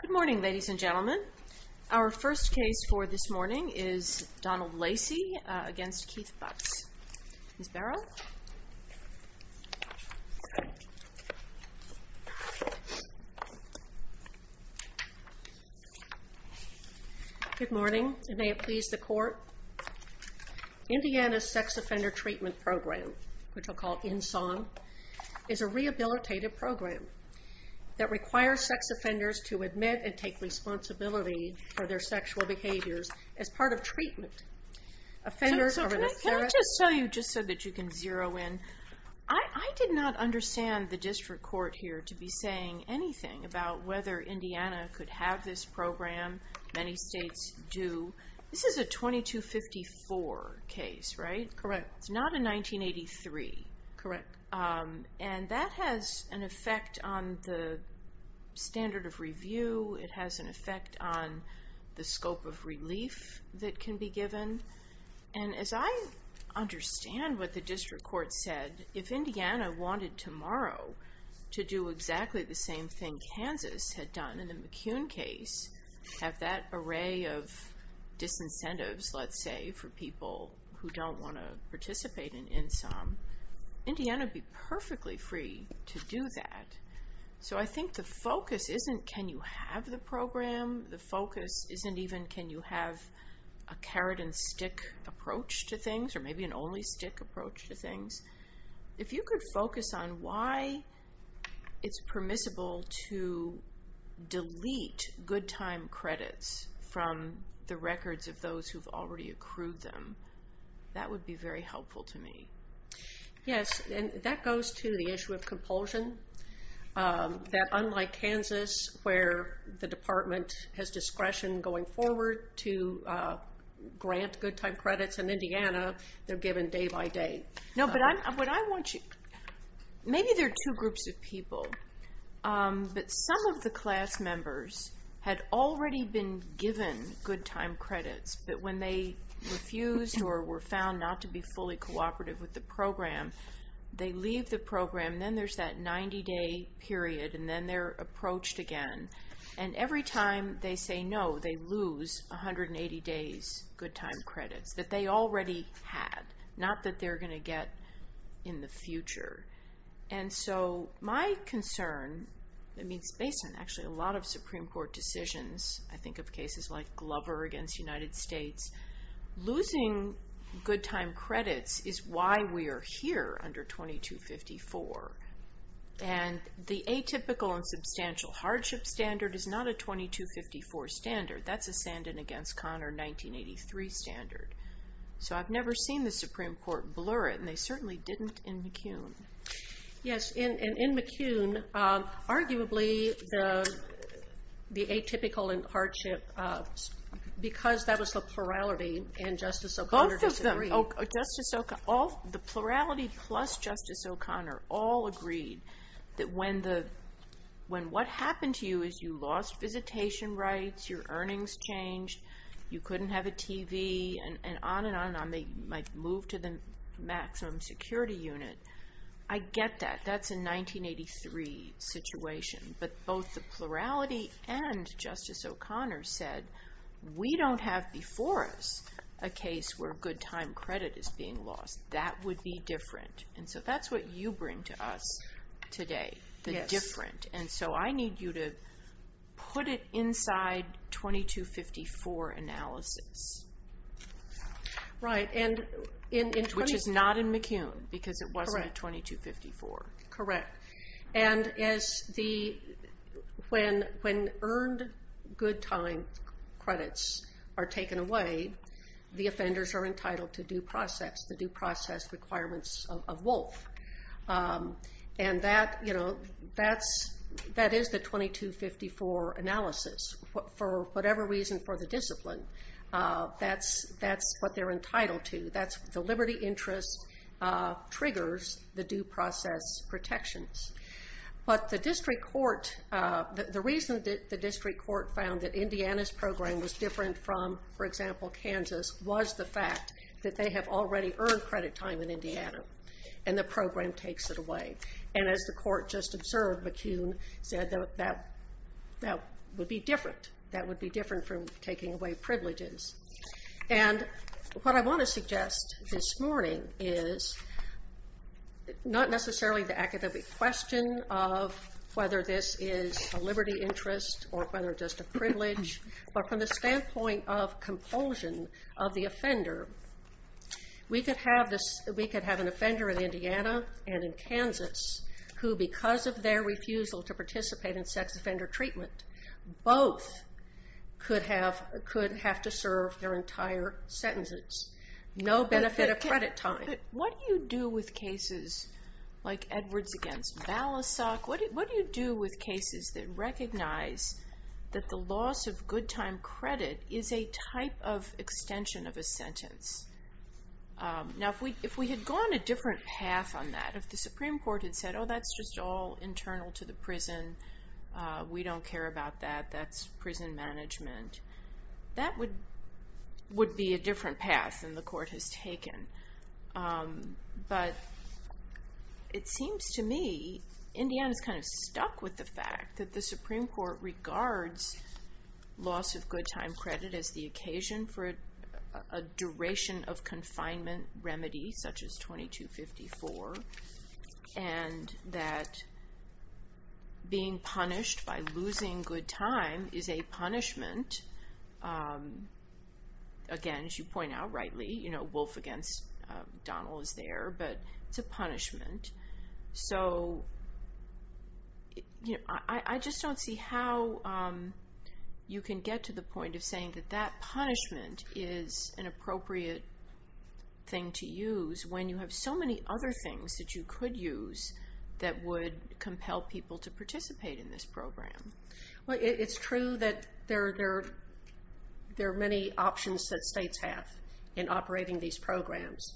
Good morning, ladies and gentlemen. Our first case for this morning is Donald Lacy against Keith Butts. Good morning, and may it please the court. Indiana's Sex Offender Treatment Program, which I'll call INSON, is a rehabilitative program that requires sex offenders to admit and take responsibility for their sexual behaviors as part of treatment. Can I just tell you, just so that you can zero in, I did not understand the district court here to be saying anything about whether Indiana could have this program. Many states do. This is a 2254 case, right? Correct. It's not a 1983. Correct. And that has an effect on the standard of review. It has an effect on the scope of relief that can be given. And as I understand what the district court said, if Indiana wanted tomorrow to do exactly the same thing Kansas had done in the McCune case, have that array of disincentives, let's say, for people who don't want to participate in INSOM, Indiana would be perfectly free to do that. So I think the focus isn't can you have the program. The focus isn't even can you have a carrot and stick approach to things, or maybe an only stick approach to things. If you could focus on why it's permissible to delete good time credits from the records of those who've already accrued them, that would be very helpful to me. Yes, and that goes to the issue of compulsion. That unlike Kansas, where the department has discretion going forward to grant good time credits in Indiana, they're given day by day. No, but what I want you, maybe there are two groups of people, but some of the class members had already been given good time credits, but when they refused or were found not to be fully cooperative with the program, they leave the program. Then there's that 90-day period, and then they're approached again. And every time they say no, they lose 180 days good time credits that they already had, not that they're going to get in the future. And so my concern, I mean it's based on actually a lot of Supreme Court decisions. I think of cases like Glover against United States. Losing good time credits is why we are here under 2254. And the atypical and substantial hardship standard is not a 2254 standard. That's a Sandin against Conner 1983 standard. So I've never seen the Supreme Court blur it, and they certainly didn't in McCune. Yes, and in McCune, arguably the atypical and hardship, because that was the plurality, and Justice O'Connor disagreed. The plurality plus Justice O'Connor all agreed that when what happened to you is you lost visitation rights, your earnings changed, you couldn't have a TV, and on and on and on. They might move to the maximum security unit. I get that. That's a 1983 situation. But both the plurality and Justice O'Connor said we don't have before us a case where good time credit is being lost. That would be different. And so that's what you bring to us today, the different. And so I need you to put it inside 2254 analysis. Right, which is not in McCune, because it wasn't 2254. Correct. And when earned good time credits are taken away, the offenders are entitled to due process, the due process requirements of Wolf. And that is the 2254 analysis. For whatever reason for the discipline, that's what they're entitled to. The liberty interest triggers the due process protections. But the district court, the reason that the district court found that Indiana's program was different from, for example, Kansas, was the fact that they have already earned credit time in Indiana, and the program takes it away. And as the court just observed, McCune said that would be different. That would be different from taking away privileges. And what I want to suggest this morning is not necessarily the academic question of whether this is a liberty interest or whether it's just a privilege, but from the standpoint of compulsion of the offender. We could have an offender in Indiana and in Kansas who, because of their refusal to participate in sex offender treatment, both could have to serve their entire sentences. No benefit of credit time. But what do you do with cases like Edwards against Balasag? What do you do with cases that recognize that the loss of good time credit is a type of extension of a sentence? Now, if we had gone a different path on that, if the Supreme Court had said, oh, that's just all internal to the prison, we don't care about that, that's prison management, that would be a different path than the court has taken. But it seems to me Indiana's kind of stuck with the fact that the Supreme Court regards loss of good time credit as the occasion for a duration of confinement remedy, such as 2254, and that being punished by losing good time is a punishment. Again, as you point out rightly, Wolf against Donald is there, but it's a punishment. So I just don't see how you can get to the point of saying that that punishment is an appropriate thing to use when you have so many other things that you could use that would compel people to participate in this program. Well, it's true that there are many options that states have in operating these programs.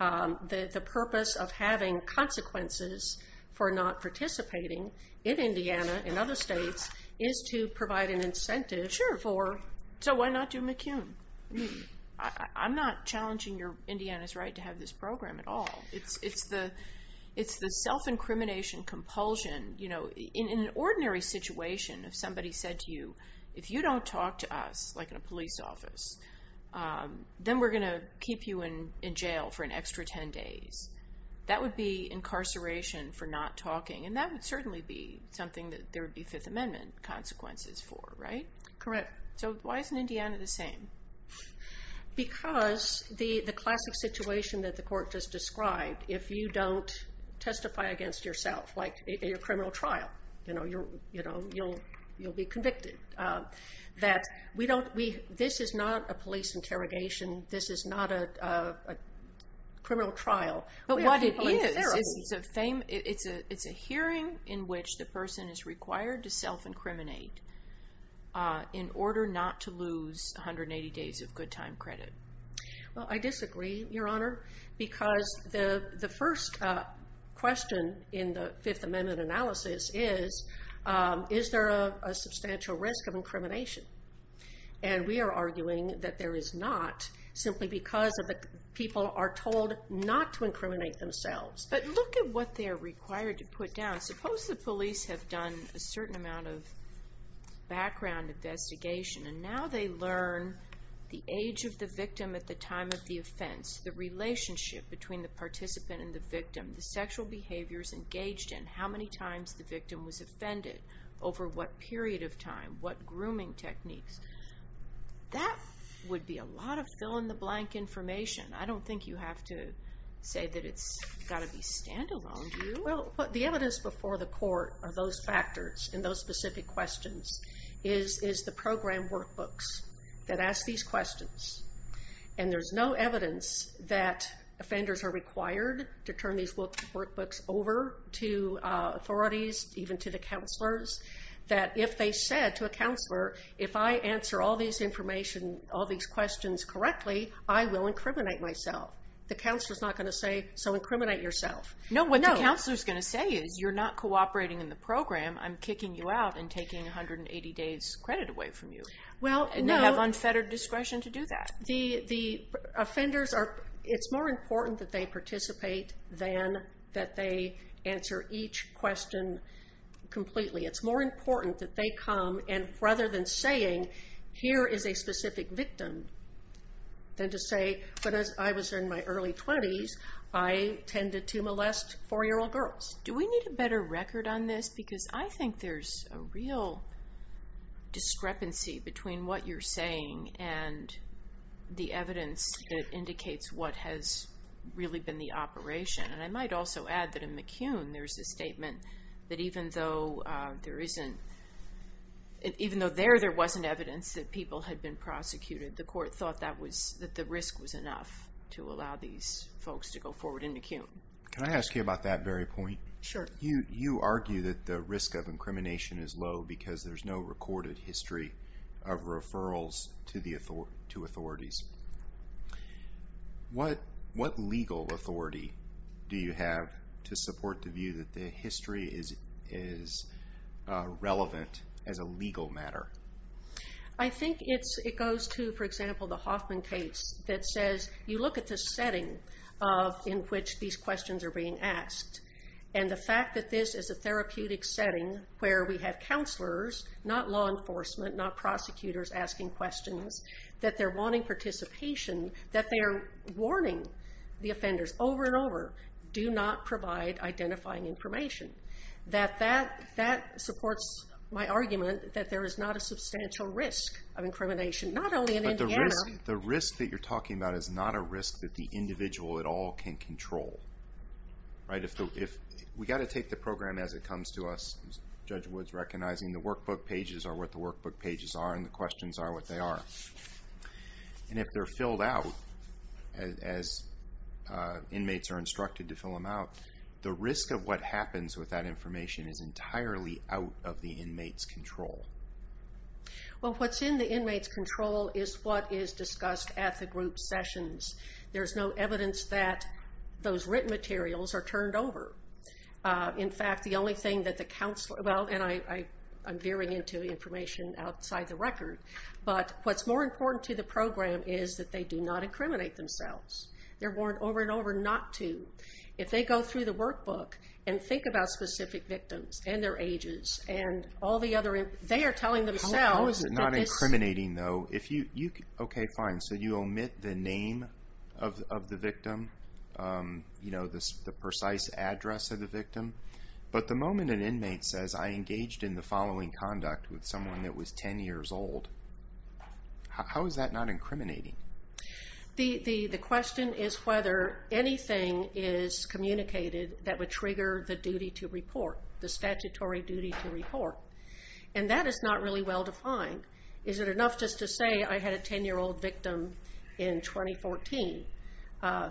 The purpose of having consequences for not participating in Indiana and other states is to provide an incentive for... Sure. So why not do McCune? I'm not challenging Indiana's right to have this program at all. It's the self-incrimination compulsion. In an ordinary situation, if somebody said to you, if you don't talk to us, like in a police office, then we're going to keep you in jail for an extra 10 days. That would be incarceration for not talking, and that would certainly be something that there would be Fifth Amendment consequences for, right? Correct. So why isn't Indiana the same? Because the classic situation that the court just described, if you don't testify against yourself, like in a criminal trial, you'll be convicted. This is not a police interrogation. This is not a criminal trial. But what it is, it's a hearing in which the person is required to self-incriminate in order not to lose 180 days of good time credit. Well, I disagree, Your Honor, because the first question in the Fifth Amendment analysis is, is there a substantial risk of incrimination? And we are arguing that there is not, simply because people are told not to incriminate themselves. But look at what they're required to put down. Suppose the police have done a certain amount of background investigation, and now they learn the age of the victim at the time of the offense, the relationship between the participant and the victim, the sexual behaviors engaged in, how many times the victim was offended, over what period of time, what grooming techniques. That would be a lot of fill-in-the-blank information. I don't think you have to say that it's got to be standalone, do you? Well, the evidence before the court are those factors and those specific questions, is the program workbooks that ask these questions. And there's no evidence that offenders are required to turn these workbooks over to authorities, even to the counselors, that if they said to a counselor, if I answer all these questions correctly, I will incriminate myself. The counselor's not going to say, so incriminate yourself. No, what the counselor's going to say is, you're not cooperating in the program. I'm kicking you out and taking 180 days credit away from you. Well, no. We have unfettered discretion to do that. The offenders are, it's more important that they participate than that they answer each question completely. It's more important that they come, and rather than saying, here is a specific victim, than to say, when I was in my early 20s, I tended to molest four-year-old girls. Do we need a better record on this? Because I think there's a real discrepancy between what you're saying and the evidence that indicates what has really been the operation. And I might also add that in McCune, there's a statement that even though there wasn't evidence that people had been prosecuted, the court thought that the risk was enough to allow these folks to go forward in McCune. Can I ask you about that very point? Sure. You argue that the risk of incrimination is low because there's no recorded history of referrals to authorities. What legal authority do you have to support the view that the history is relevant as a legal matter? I think it goes to, for example, the Hoffman case that says, you look at the setting in which these questions are being asked, and the fact that this is a therapeutic setting where we have counselors, not law enforcement, not prosecutors asking questions, that they're wanting participation, that they are warning the offenders over and over, do not provide identifying information. That supports my argument that there is not a substantial risk of incrimination, not only in Indiana. But the risk that you're talking about is not a risk that the individual at all can control. We've got to take the program as it comes to us. Judge Wood's recognizing the workbook pages are what the workbook pages are, and the questions are what they are. And if they're filled out, as inmates are instructed to fill them out, the risk of what happens with that information is entirely out of the inmate's control. Well, what's in the inmate's control is what is discussed at the group sessions. There's no evidence that those written materials are turned over. In fact, the only thing that the counselor, well, and I'm veering into information outside the record, but what's more important to the program is that they do not incriminate themselves. They're warned over and over not to. If they go through the workbook and think about specific victims and their ages and all the other, they are telling themselves that this... How is it not incriminating, though? Okay, fine, so you omit the name of the victim, the precise address of the victim. But the moment an inmate says, I engaged in the following conduct with someone that was 10 years old, how is that not incriminating? The question is whether anything is communicated that would trigger the duty to report, the statutory duty to report. And that is not really well defined. Is it enough just to say I had a 10-year-old victim in 2014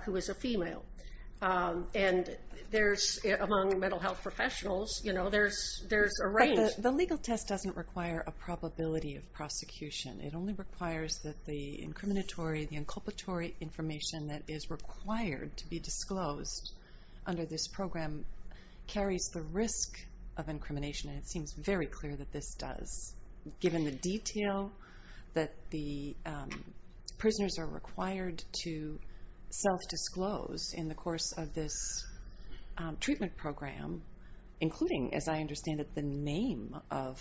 who was a female? And among mental health professionals, there's a range. But the legal test doesn't require a probability of prosecution. It only requires that the incriminatory, the inculpatory information that is required to be disclosed under this program carries the risk of incrimination, and it seems very clear that this does. Given the detail that the prisoners are required to self-disclose in the course of this treatment program, including, as I understand it, the name of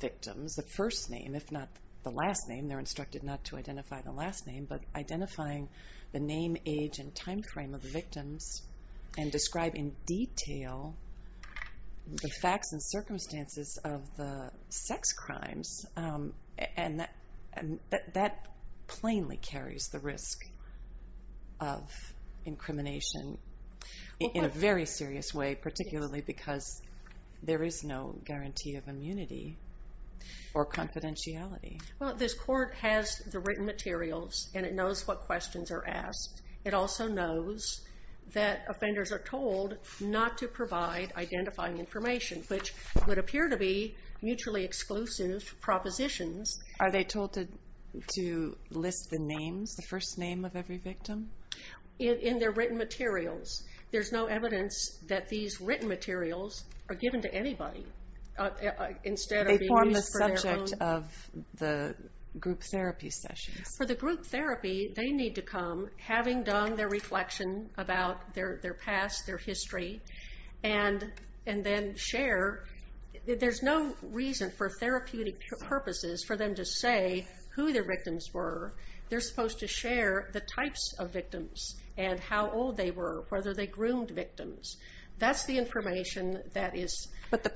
victims, the first name, if not the last name. They're instructed not to identify the last name, but identifying the name, age, and time frame of the victims and describe in detail the facts and circumstances of the sex crimes. And that plainly carries the risk of incrimination in a very serious way, particularly because there is no guarantee of immunity or confidentiality. Well, this court has the written materials, and it knows what questions are asked. It also knows that offenders are told not to provide identifying information, which would appear to be mutually exclusive propositions. Are they told to list the names, the first name of every victim? In their written materials. There's no evidence that these written materials are given to anybody instead of being used for their own... They form the subject of the group therapy sessions. For the group therapy, they need to come, having done their reflection about their past, their history, and then share. There's no reason for therapeutic purposes for them to say who their victims were. They're supposed to share the types of victims and how old they were, whether they groomed victims. That's the information that is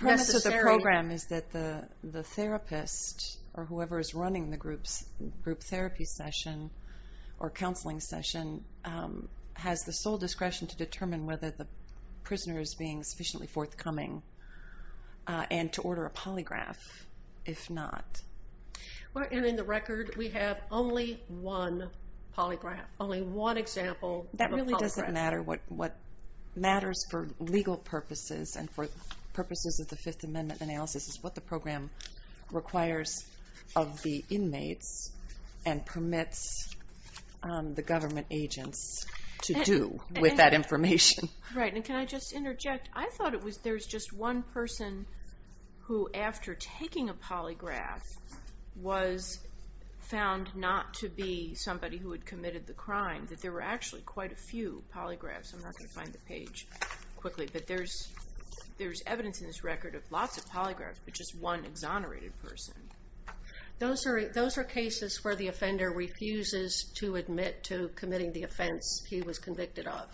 necessary. The program is that the therapist, or whoever is running the group therapy session or counseling session, has the sole discretion to determine whether the prisoner is being sufficiently forthcoming and to order a polygraph, if not. And in the record, we have only one polygraph, only one example of a polygraph. What matters for legal purposes and for purposes of the Fifth Amendment analysis is what the program requires of the inmates and permits the government agents to do with that information. Right, and can I just interject? I thought there was just one person who, after taking a polygraph, was found not to be somebody who had committed the crime. There were actually quite a few polygraphs. I'm not going to find the page quickly, but there's evidence in this record of lots of polygraphs, but just one exonerated person. Those are cases where the offender refuses to admit to committing the offense he was convicted of.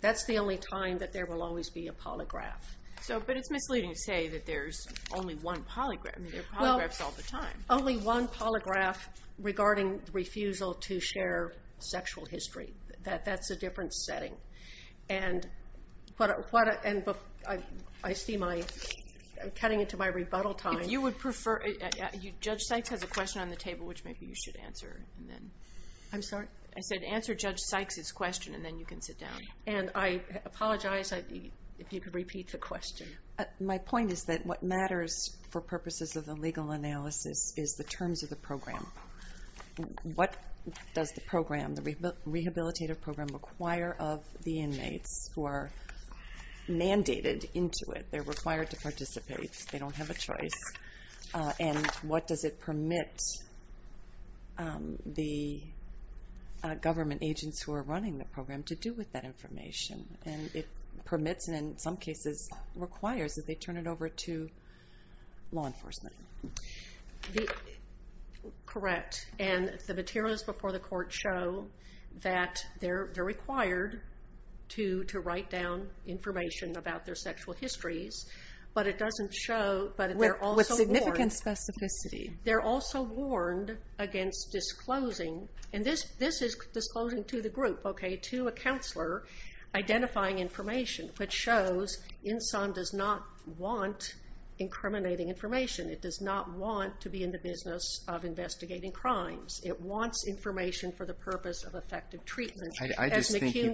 That's the only time that there will always be a polygraph. But it's misleading to say that there's only one polygraph. There are polygraphs all the time. There's only one polygraph regarding refusal to share sexual history. That's a different setting. And I see I'm cutting into my rebuttal time. If you would prefer, Judge Sykes has a question on the table, which maybe you should answer. I'm sorry? I said answer Judge Sykes' question, and then you can sit down. And I apologize if you could repeat the question. My point is that what matters for purposes of the legal analysis is the terms of the program. What does the program, the rehabilitative program, require of the inmates who are mandated into it? They're required to participate. They don't have a choice. And what does it permit the government agents who are running the program to do with that information? And it permits and, in some cases, requires that they turn it over to law enforcement. Correct. And the materials before the court show that they're required to write down information about their sexual histories. But it doesn't show. With significant specificity. They're also warned against disclosing. And this is disclosing to the group, okay, to a counselor. Identifying information, which shows INSOM does not want incriminating information. It does not want to be in the business of investigating crimes. It wants information for the purpose of effective treatment. I just think you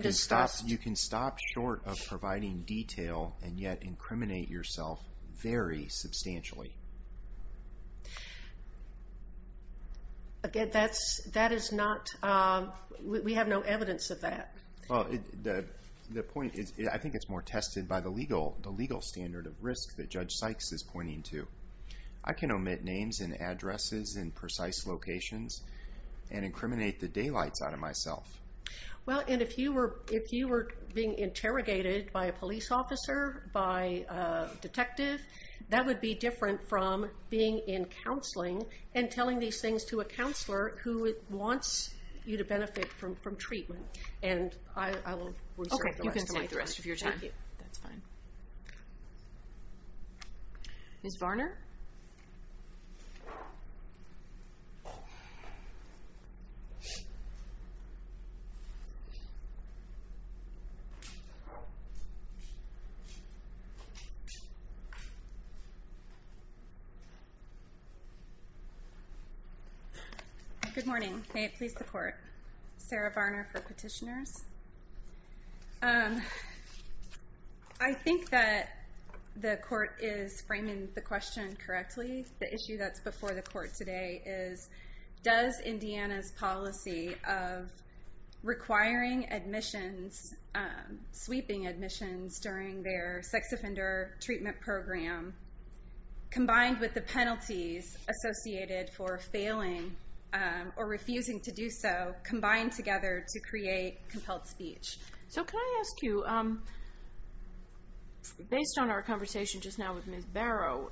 can stop short of providing detail and yet incriminate yourself very substantially. Again, that is not, we have no evidence of that. Well, the point is I think it's more tested by the legal standard of risk that Judge Sykes is pointing to. I can omit names and addresses and precise locations and incriminate the daylights out of myself. Well, and if you were being interrogated by a police officer, by a detective, that would be different from being in counseling and telling these things to a counselor who wants you to benefit from treatment. And I will reserve the rest of my time. Okay, you can take the rest of your time. Thank you. That's fine. Ms. Varner? Good morning. May it please the court. Sarah Varner for petitioners. I think that the court is framing the question correctly. The issue that's before the court today is does Indiana's policy of requiring admissions, sweeping admissions during their sex offender treatment program, combined with the penalties associated for failing or refusing to do so, combine together to create compelled speech. So can I ask you, based on our conversation just now with Ms. Barrow,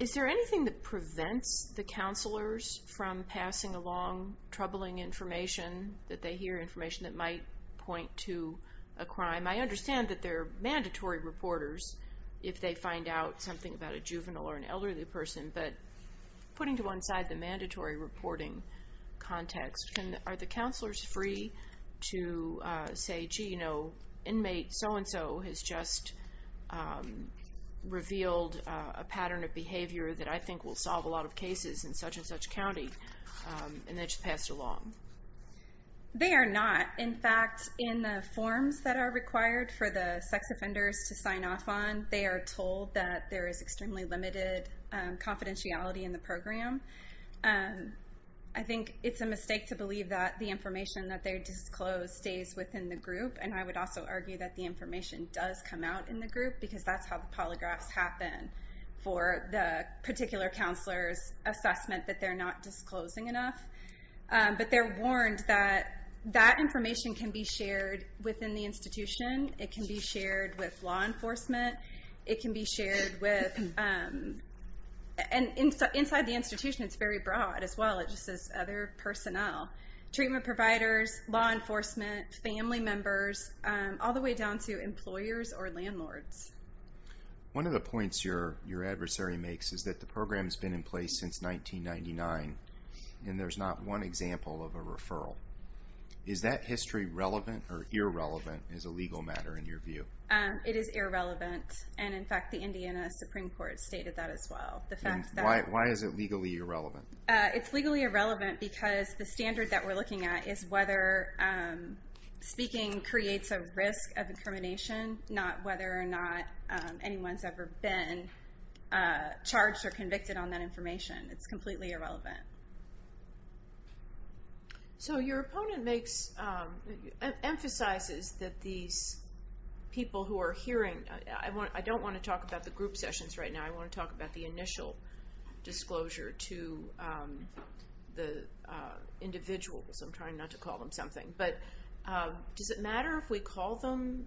is there anything that prevents the counselors from passing along troubling information that they hear, information that might point to a crime? I understand that they're mandatory reporters if they find out something about a juvenile or an elderly person, but putting to one side the mandatory reporting context, are the counselors free to say, gee, you know, inmate so-and-so has just revealed a pattern of behavior that I think will solve a lot of cases in such-and-such county, and they just passed along? They are not. In fact, in the forms that are required for the sex offenders to sign off on, they are told that there is extremely limited confidentiality in the program. I think it's a mistake to believe that the information that they disclose stays within the group, and I would also argue that the information does come out in the group, because that's how the polygraphs happen for the particular counselor's assessment that they're not disclosing enough. But they're warned that that information can be shared within the institution. It can be shared with law enforcement. It can be shared with, and inside the institution, it's very broad as well. It just says other personnel, treatment providers, law enforcement, family members, all the way down to employers or landlords. One of the points your adversary makes is that the program has been in place since 1999, and there's not one example of a referral. Is that history relevant or irrelevant as a legal matter, in your view? It is irrelevant, and, in fact, the Indiana Supreme Court stated that as well. Why is it legally irrelevant? It's legally irrelevant because the standard that we're looking at is whether speaking creates a risk of incrimination, not whether or not anyone's ever been charged or convicted on that information. It's completely irrelevant. So your opponent emphasizes that these people who are hearing, I don't want to talk about the group sessions right now. I want to talk about the initial disclosure to the individuals. I'm trying not to call them something. But does it matter if we call them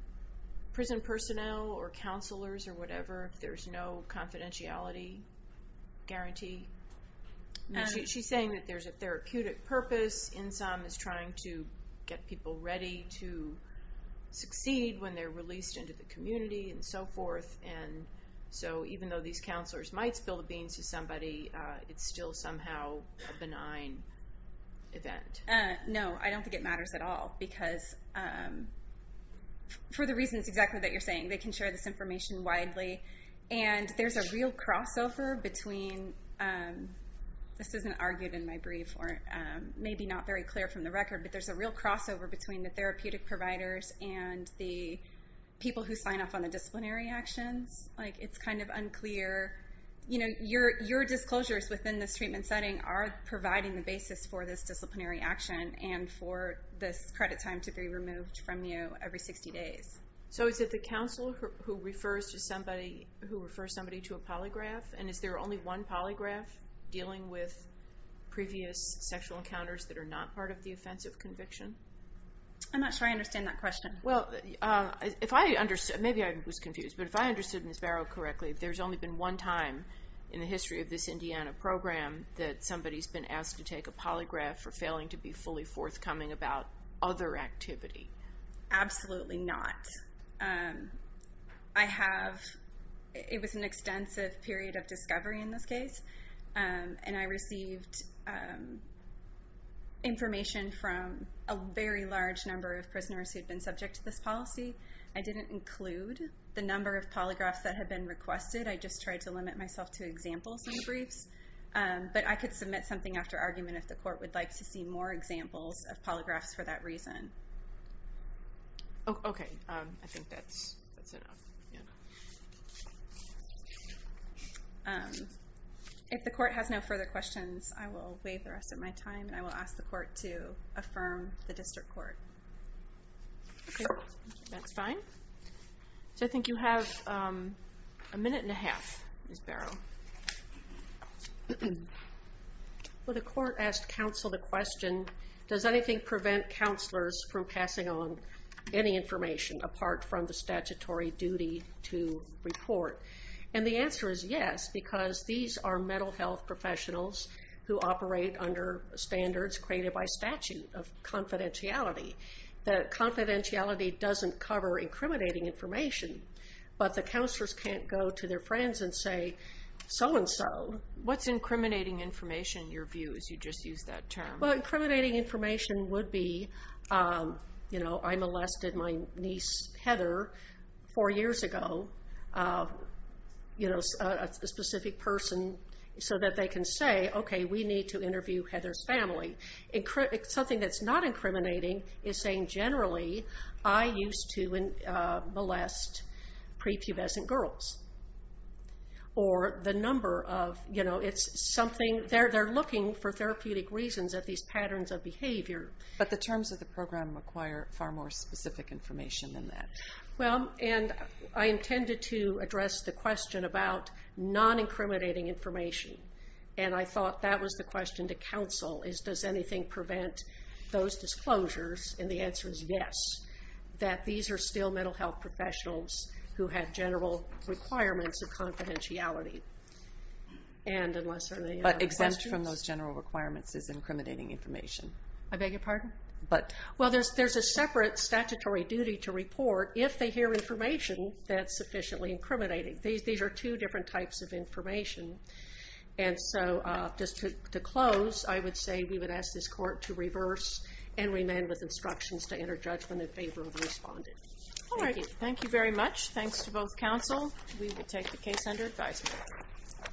prison personnel or counselors or whatever if there's no confidentiality guarantee? She's saying that there's a therapeutic purpose in some, is trying to get people ready to succeed when they're released into the community and so forth. And so even though these counselors might spill the beans to somebody, it's still somehow a benign event. No, I don't think it matters at all because for the reasons exactly that you're saying, they can share this information widely. And there's a real crossover between, this isn't argued in my brief, or maybe not very clear from the record, but there's a real crossover between the therapeutic providers and the people who sign off on the disciplinary actions. It's kind of unclear. Your disclosures within the treatment setting are providing the basis for this disciplinary action and for this credit time to be removed from you every 60 days. So is it the counselor who refers somebody to a polygraph? And is there only one polygraph dealing with previous sexual encounters that are not part of the offensive conviction? I'm not sure I understand that question. Well, maybe I was confused. But if I understood Ms. Barrow correctly, there's only been one time in the history of this Indiana program that somebody's been asked to take a polygraph for failing to be fully forthcoming about other activity. Absolutely not. It was an extensive period of discovery in this case. And I received information from a very large number of prisoners who had been subject to this policy. I didn't include the number of polygraphs that had been requested. I just tried to limit myself to examples and briefs. But I could submit something after argument if the court would like to see more examples of polygraphs for that reason. Okay. I think that's enough. If the court has no further questions, I will waive the rest of my time, and I will ask the court to affirm the district court. Okay. That's fine. So I think you have a minute and a half, Ms. Barrow. Well, the court asked counsel the question, does anything prevent counselors from passing on any information apart from the statutory duty to report? And the answer is yes, because these are mental health professionals who operate under standards created by statute of confidentiality. The confidentiality doesn't cover incriminating information, but the counselors can't go to their friends and say, so-and-so. What's incriminating information, in your view, as you just used that term? Well, incriminating information would be, you know, I molested my niece, Heather, four years ago. You know, a specific person, so that they can say, okay, we need to interview Heather's family. Something that's not incriminating is saying, generally, I used to molest prepubescent girls. Or the number of, you know, it's something, they're looking for therapeutic reasons at these patterns of behavior. But the terms of the program require far more specific information than that. Well, and I intended to address the question about non-incriminating information. And I thought that was the question to counsel, is does anything prevent those disclosures? And the answer is yes, that these are still mental health professionals who have general requirements of confidentiality. But exempt from those general requirements is incriminating information. I beg your pardon? Well, there's a separate statutory duty to report, if they hear information that's sufficiently incriminating. These are two different types of information. And so, just to close, I would say we would ask this court to reverse and remain with instructions to enter judgment in favor of the respondent. All right, thank you very much. Thanks to both counsel. We will take the case under advisement.